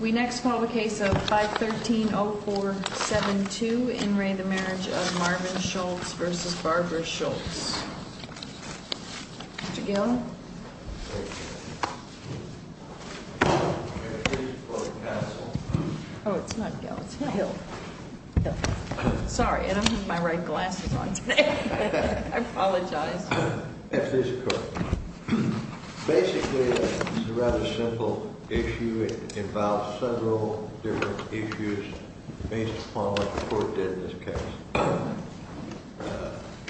We next call the case of 513-0472, In re the Marriage of Marvin Schultz v. Barbara Schultz. Mr. Gill. Oh, it's not Gil, it's Hill. Sorry, I don't have my right glasses on today. I apologize. At this court. Basically, it's a rather simple issue. It involves several different issues based upon what the court did in this case.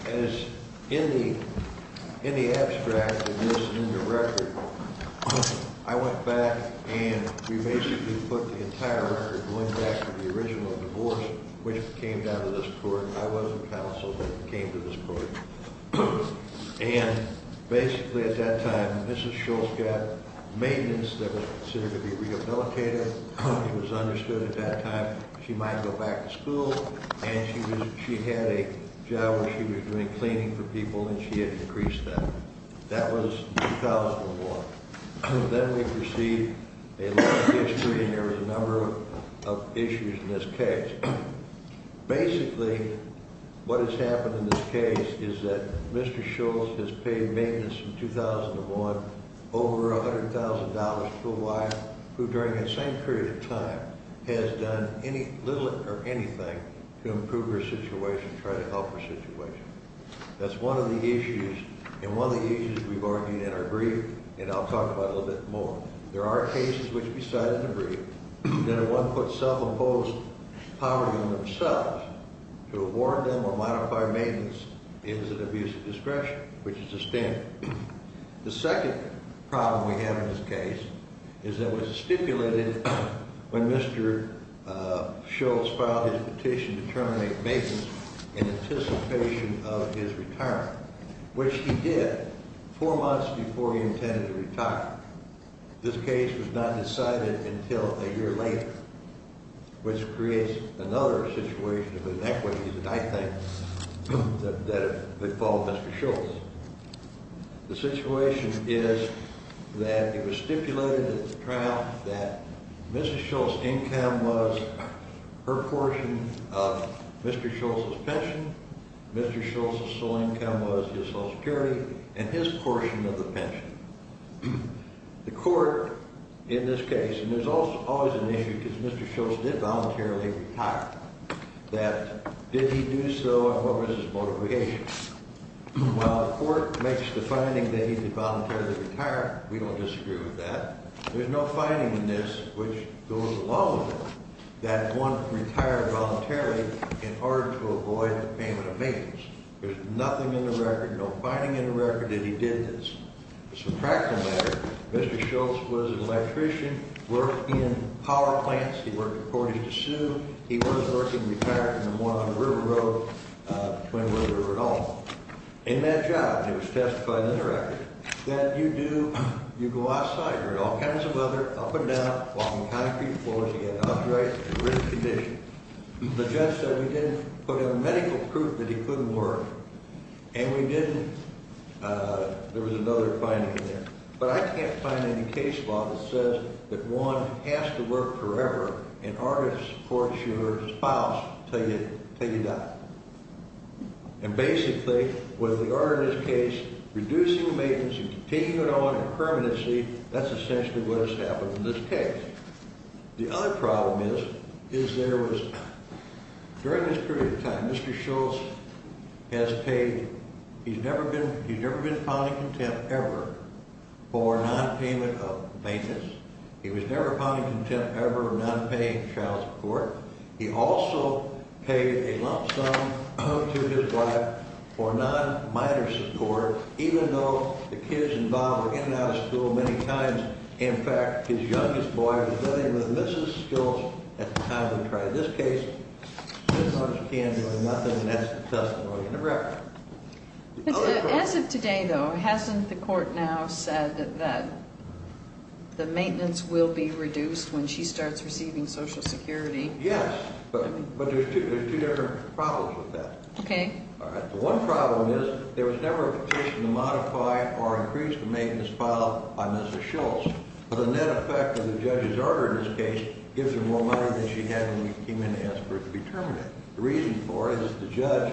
As in the abstract of this new record, I went back and we basically put the entire record going back to the original divorce which came down to this court. I was counsel that came to this court. And basically at that time Mrs. Schultz got maintenance that was considered to be rehabilitative. It was understood at that time she might go back to school and she had a job where she was doing cleaning for people and she had increased that. That was 2001. Then we received a lot of history and there was a number of issues in this case. Basically, what has happened in this case is that Mr. Schultz has paid maintenance in 2001 over $100,000 to a wife who during that same period of time has done little or anything to improve her situation, try to help her situation. That's one of the issues and one of the issues we've argued in our brief and I'll talk about a little bit more. There are cases which we cited in the brief that at one point self-imposed poverty on themselves to award them or modify maintenance is an abuse of discretion which is a standard. The second problem we have in this case is that it was stipulated when Mr. Schultz filed his petition to terminate maintenance in anticipation of his retirement, which he did four months before he intended to retire. This case was not decided until a year later, which creates another situation of inequity that I think that they call Mr. Schultz. The situation is that it was stipulated at the trial that Mr. Schultz's income was her portion of Mr. Schultz's pension, Mr. Schultz's sole income was his Social Security and his portion of the pension. The court in this case, and there's always an issue because Mr. Schultz did voluntarily retire, that did he do so and what was his motivation? While the court makes the finding that he did voluntarily retire, we don't disagree with that. There's no finding in this which goes along with it that one retired voluntarily in order to avoid payment of maintenance. There's nothing in the record, no finding in the record that he did this. As a practical matter, Mr. Schultz was an electrician, worked in power plants. He worked according to sue. He was working, retired, in the water on River Road between where we were at all. In that job, it was testified in the record, that you do, you go outside, you're in all kinds of weather, up and down, walking concrete floors, you get an upright, good condition. The judge said we didn't put a medical proof that he couldn't work. And we didn't. There was another finding in there. But I can't find any case law that says that one has to work forever in order to support your spouse until you die. And basically, with the order in this case, reducing maintenance and continuing on in permanency, that's essentially what has happened in this case. The other problem is, is there was, during this period of time, Mr. Schultz has paid, he's never been, he's never been found in contempt ever for nonpayment of maintenance. He was never found in contempt ever for nonpaying child support. He also paid a lump sum to his wife for non-minor support, even though the kids involved were in and out of school many times. In fact, his youngest boy was living with Mrs. Schultz at the time of the trial. In this case, there's not a chance of doing nothing, and that's the testimony in the record. As of today, though, hasn't the court now said that the maintenance will be reduced when she starts receiving Social Security? Yes, but there's two different problems with that. Okay. All right. The one problem is there was never a petition to modify or increase the maintenance filed by Mr. Schultz. But the net effect of the judge's order in this case gives her more money than she had when we came in to ask for it to be terminated. The reason for it is the judge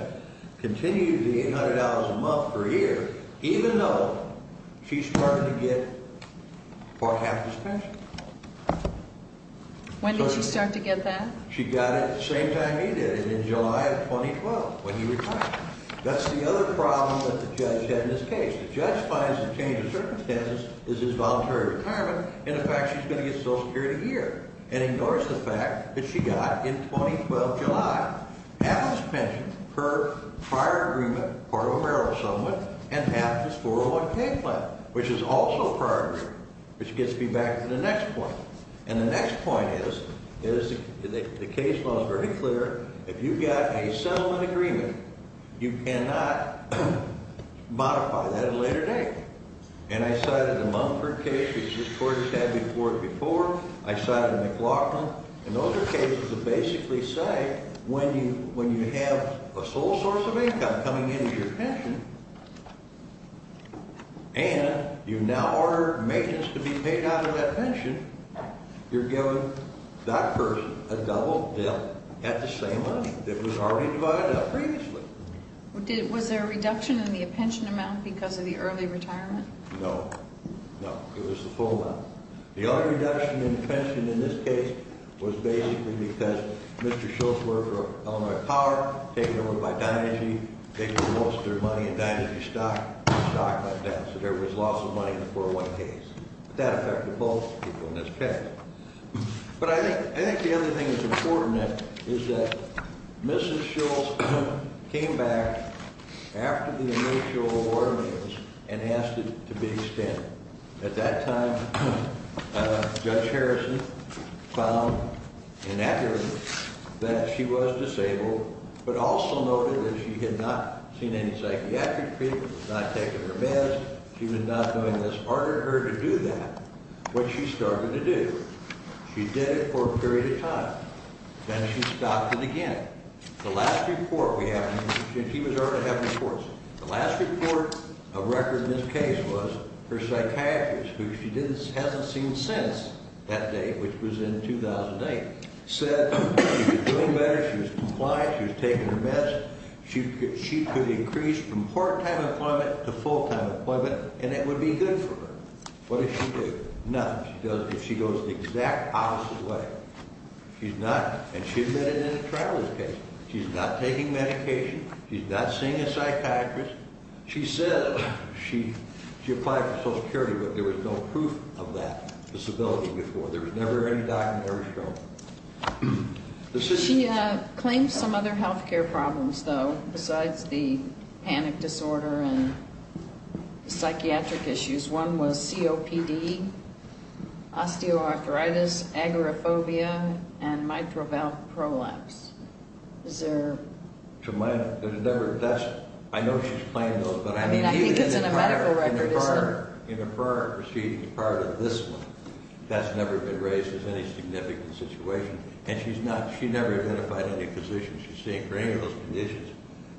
continues the $800 a month per year, even though she's starting to get four-half his pension. When did she start to get that? She got it the same time he did it, in July of 2012, when he retired. That's the other problem that the judge had in this case. The judge finds the change of circumstances is his voluntary retirement and the fact she's going to get Social Security here and ignores the fact that she got, in 2012 July, half his pension, her prior agreement, part of a marital settlement, and half his 401k plan, which is also prior agreement, which gets me back to the next point. And the next point is the case law is very clear. If you got a settlement agreement, you cannot modify that at a later date. And I cited the Mumford case, which this Court has had before it before. I cited McLaughlin. And those are cases that basically say when you have a sole source of income coming into your pension and you now order maintenance to be paid out of that pension, you're giving that person a double bill at the same money that was already divided up previously. Was there a reduction in the pension amount because of the early retirement? No. No. It was the full amount. The only reduction in the pension in this case was basically because Mr. Schultz worked for Illinois Power, taken over by Dynagy, they lost their money at Dynagy Stock, and stock went down. So there was loss of money in the 401k. That affected both people in this case. But I think the other thing that's important is that Mrs. Schultz came back after the initial order maintenance and asked it to be extended. At that time, Judge Harrison found in evidence that she was disabled, but also noted that she had not seen any psychiatric treatment, not taken her meds. She was not doing this, ordered her to do that. What she started to do, she did it for a period of time. Then she stopped it again. The last report we have, she was already having reports. The last report of record in this case was her psychiatrist, who she hasn't seen since that date, which was in 2008, said she was doing better, she was compliant, she was taking her meds. She could increase from part-time employment to full-time employment, and it would be good for her. What does she do? Nothing. She goes the exact opposite way. She's not. And she admitted it in a trial in this case. She's not taking medication. She's not seeing a psychiatrist. She said she applied for Social Security, but there was no proof of that disability before. There was never any document ever shown. She claimed some other health care problems, though, besides the panic disorder and the psychiatric issues. One was COPD, osteoarthritis, agoraphobia, and mitral valve prolapse. Is there? I know she's claimed those. I mean, I think it's in a medical record, isn't it? In a prior proceeding prior to this one, that's never been raised as any significant situation. And she's not. She never identified any physicians she's seen for any of those conditions.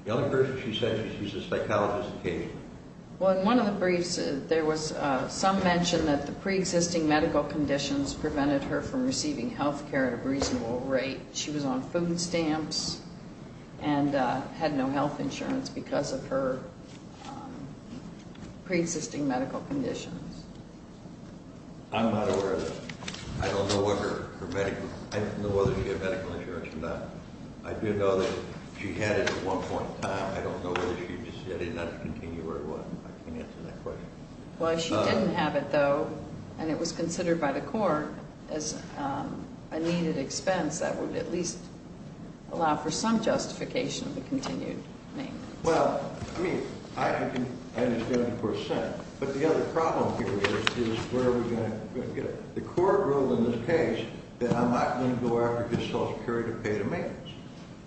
The only person she said she's seen is a psychologist occasionally. Well, in one of the briefs, there was some mention that the preexisting medical conditions prevented her from receiving health care at a reasonable rate. She was on food stamps and had no health insurance because of her preexisting medical conditions. I'm not aware of that. I don't know whether she had medical insurance or not. I do know that she had it at one point in time. I don't know whether she decided not to continue or what. I can't answer that question. Well, she didn't have it, though, and it was considered by the court as a needed expense that would at least allow for some justification of the continued maintenance. Well, I mean, I understand what the court is saying. But the other problem here is where are we going to get it? The court ruled in this case that I'm not going to go after just Social Security to pay the maintenance.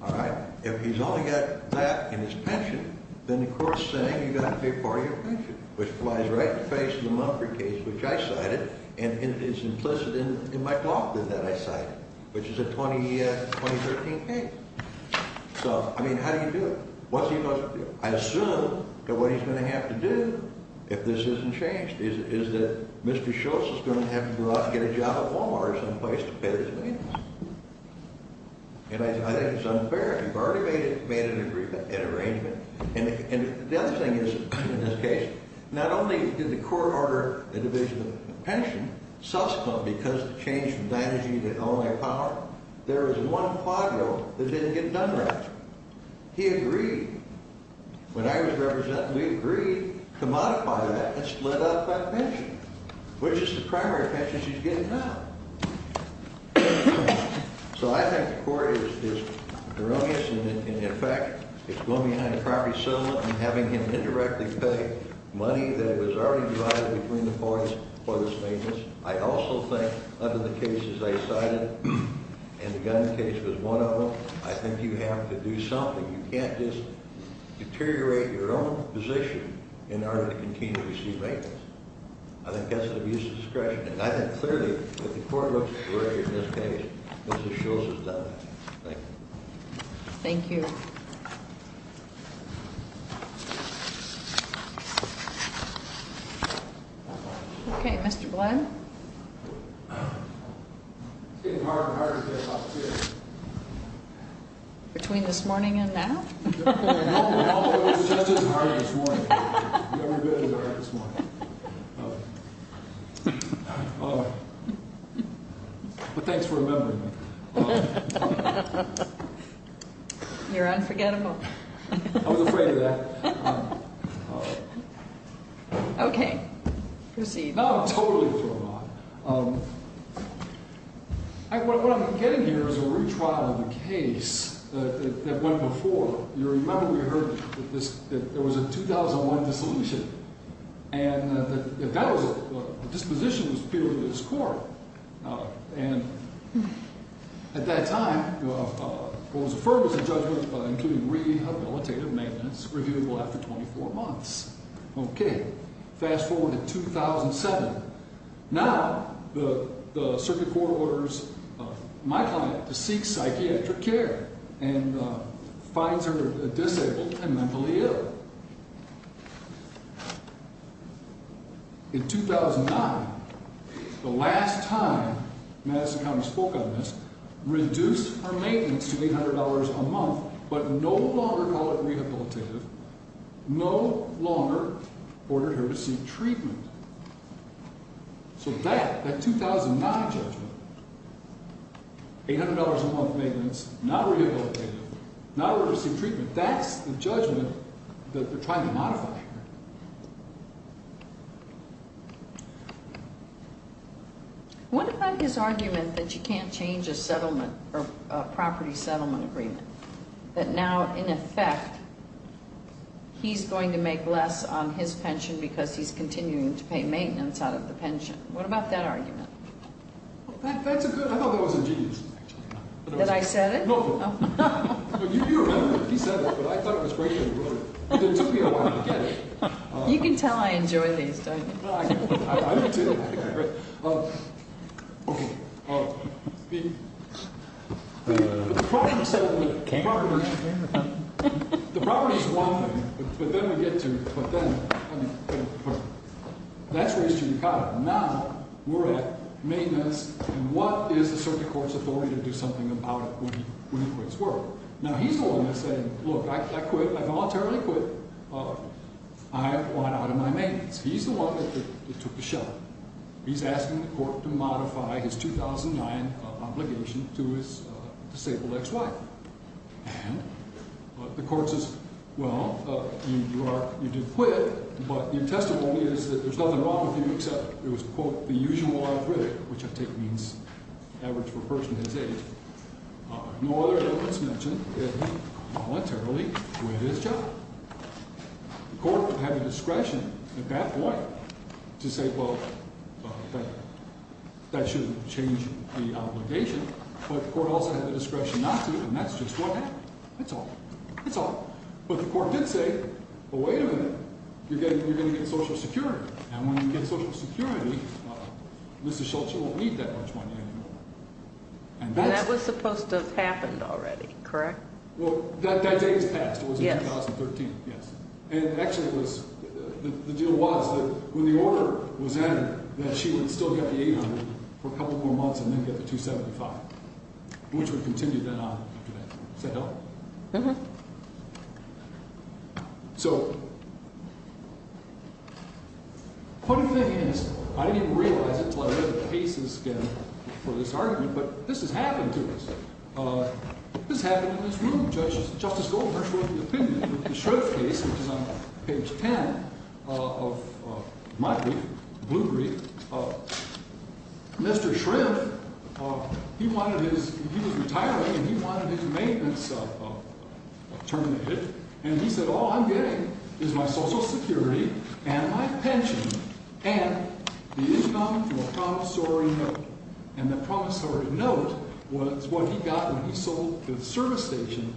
All right? If he's only got that and his pension, then the court is saying you've got to pay part of your pension, which flies right in the face of the Mumford case, which I cited, and it's implicit in my document that I cited, which is a 2013 case. So, I mean, how do you do it? What's he supposed to do? I assume that what he's going to have to do, if this isn't changed, is that Mr. Schultz is going to have to go out and get a job at Walmart or someplace to pay his maintenance. And I think it's unfair. You've already made an agreement, an arrangement. And the other thing is, in this case, not only did the court order a division of pension, subsequent because the change from managing the only power, there was one quadro that didn't get done right. He agreed. When I was representing, we agreed to modify that and split up that pension, which is the primary pension she's getting now. So I think the court is erroneous in effect. It's going behind a property settlement and having him indirectly pay money that was already divided between the parties for his maintenance. I also think, under the cases I cited, and the gun case was one of them, I think you have to do something. You can't just deteriorate your own position in order to continue to receive maintenance. I think that's an abuse of discretion. And I think clearly, if the court looks at this case, Mrs. Shultz is done. Thank you. Thank you. Okay, Mr. Blunt. Between this morning and now? No, it was just as hard this morning. Never been as hard as this morning. But thanks for remembering me. You're unforgettable. I was afraid of that. Okay. Proceed. No, totally forgot. What I'm getting here is a retrial of the case that went before. You remember we heard that there was a 2001 disillusionment. And that was it. The disposition was appealed to this court. And at that time, what was affirmed was a judgment including rehabilitative maintenance reviewable after 24 months. Okay. Fast forward to 2007. Now, the circuit court orders my client to seek psychiatric care and finds her disabled and mentally ill. In 2009, the last time Madison County spoke on this, reduced her maintenance to $800 a month but no longer called it rehabilitative, no longer ordered her to seek treatment. So that, that 2009 judgment, $800 a month maintenance, not rehabilitative, not ordered her to seek treatment, that's the judgment that they're trying to modify here. What about his argument that you can't change a property settlement agreement? That now, in effect, he's going to make less on his pension because he's continuing to pay maintenance out of the pension. What about that argument? That's a good, I thought that was ingenious. That I said it? No. No, you remember, he said that, but I thought it was great that he wrote it. It took me a while to get it. You can tell I enjoy these, don't you? I do, too. Okay, the property settlement agreement, the property is one thing, but then we get to, but then, I mean, that's raised judicata. Now, we're at maintenance and what is the circuit court's authority to do something about it when he quits work? Now, he's the one that's saying, look, I quit, I voluntarily quit, I want out of my maintenance. He's the one that took the shot. He's asking the court to modify his 2009 obligation to his disabled ex-wife. And the court says, well, you did quit, but your testimony is that there's nothing wrong with you except it was, quote, the usual algorithmic, which I take means average for a person his age. No other evidence mentioned that he voluntarily quit his job. The court had the discretion at that point to say, well, that shouldn't change the obligation, but the court also had the discretion not to, and that's just what happened. That's all. That's all. But the court did say, well, wait a minute, you're going to get Social Security, and when you get Social Security, Mrs. Schultz, you won't need that much money anymore. And that was supposed to have happened already, correct? Well, that day has passed. It was in 2013. Yes. And actually it was – the deal was that when the order was added that she would still get the 800 for a couple more months and then get the 275, which would continue then on after that. Does that help? Uh-huh. So the funny thing is I didn't even realize it until I read the cases again for this argument, but this has happened to us. This happened in this room. Justice Goldberg wrote the opinion of the Schrift case, which is on page 10 of my brief, the blue brief. Mr. Schrift, he wanted his – he was retiring and he wanted his maintenance terminated, and he said all I'm getting is my Social Security and my pension and the income from a promissory note. And the promissory note was what he got when he sold the service station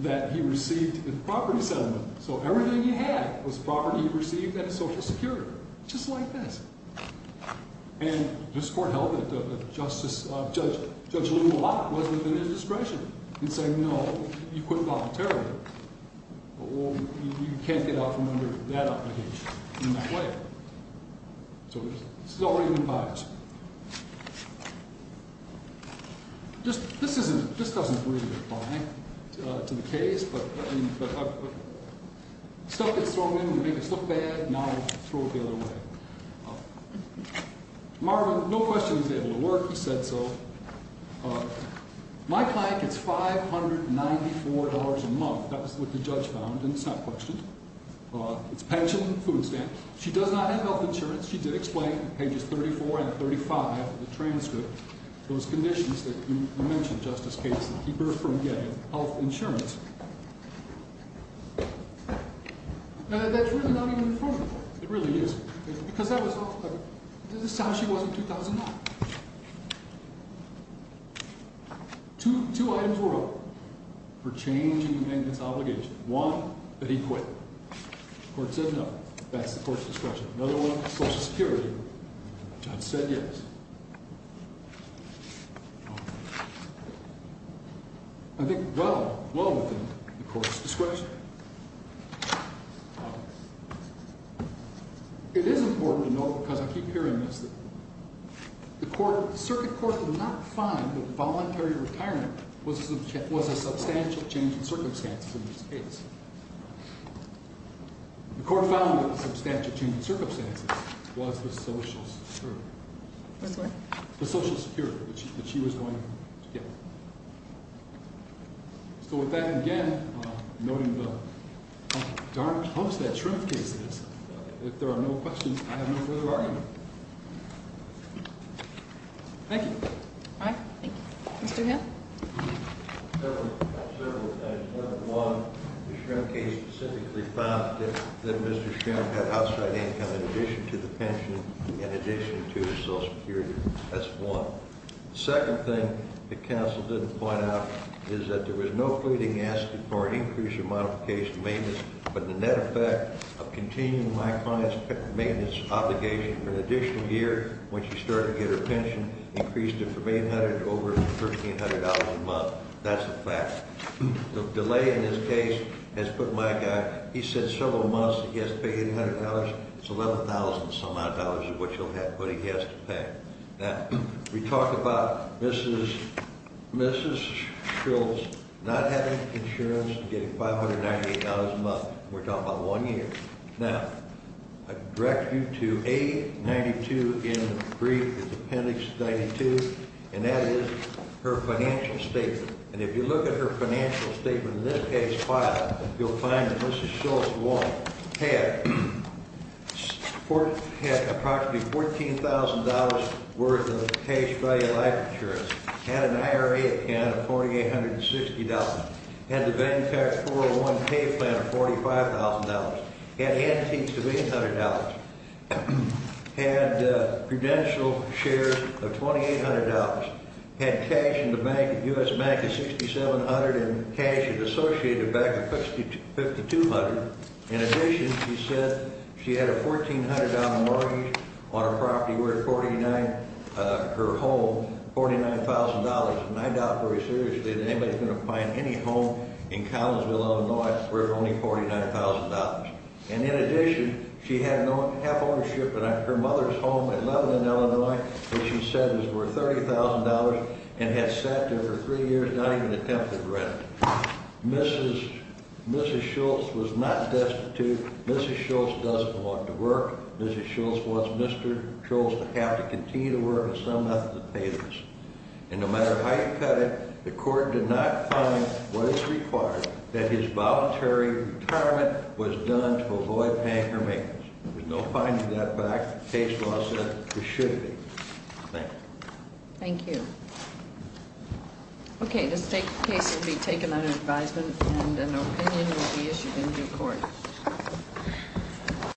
that he received in the property settlement. So everything he had was property he received out of Social Security, just like this. And this court held it that Justice – Judge Lew Lott wasn't within his discretion in saying no, you couldn't voluntarily, or you can't get out from under that obligation in that way. So this is already been biaged. This isn't – this doesn't really apply to the case, but stuff gets thrown in, we make it look bad, now we throw it the other way. Marvin, no question he's able to work. He said so. My client gets $594 a month. That was what the judge found, and it's not questioned. It's pension, food stamps. She does not have health insurance. She did explain in pages 34 and 35 of the transcript those conditions that you mentioned, Justice Cates, to keep her from getting health insurance. That's really not even in front of the court. It really is. Because that was – this is how she was in 2009. Two items were up for change in the maintenance obligation. One, that he quit. The court said no. That's the court's discretion. Another one, Social Security. The judge said yes. I think well, well within the court's discretion. It is important to note, because I keep hearing this, that the circuit court did not find that voluntary retirement was a substantial change in circumstances in this case. The court found that the substantial change in circumstances was the Social Security. Which one? The Social Security that she was going to get. So with that, again, noting the darned Humpstead-Shrimp cases, if there are no questions, I have no further argument. Thank you. All right. Thank you. Mr. Hill? Several things. Number one, the Shrimp case specifically found that Mr. Shrimp had outside income in addition to the pension, in addition to Social Security. That's one. The second thing the counsel didn't point out is that there was no fleeting asking for an increase in modification maintenance, but the net effect of continuing my client's maintenance obligation for an additional year, once you start to get her pension, increased it from $800 to over $1,300 a month. That's a fact. The delay in this case has put my guy, he said several months, he has to pay $800. It's $11,000-some-odd of what he has to pay. Now, we talked about Mrs. Schultz not having insurance and getting $598 a month. We're talking about one year. Now, I direct you to A92 in the brief, the appendix 92, and that is her financial statement. And if you look at her financial statement in this case file, you'll find that Mrs. Schultz, one, had approximately $14,000 worth of cash value life insurance, had an IRA account of $4,860, had the Ventac 401 pay plan of $45,000, had antiques of $800, had credential shares of $2,800, had cash in the bank, U.S. bank of $6,700, and cash associated bank of $5,200. In addition, she said she had a $1,400 mortgage on her property worth $49,000, her home, $49,000. And I doubt very seriously that anybody's going to find any home in Collinsville, Illinois worth only $49,000. And in addition, she had no half ownership in her mother's home in Lebanon, Illinois, which she said was worth $30,000 and had sat there for three years, not even attempting to rent it. Mrs. Schultz was not destitute. Mrs. Schultz doesn't want to work. Mrs. Schultz wants Mr. Schultz to have to continue to work in some method of payments. And no matter how you cut it, the court did not find what is required that his voluntary retirement was done to avoid paying her maintenance. There's no finding that back. Case law said it should be. Thank you. Thank you. Okay, this case will be taken under advisement and an opinion will be issued in due court.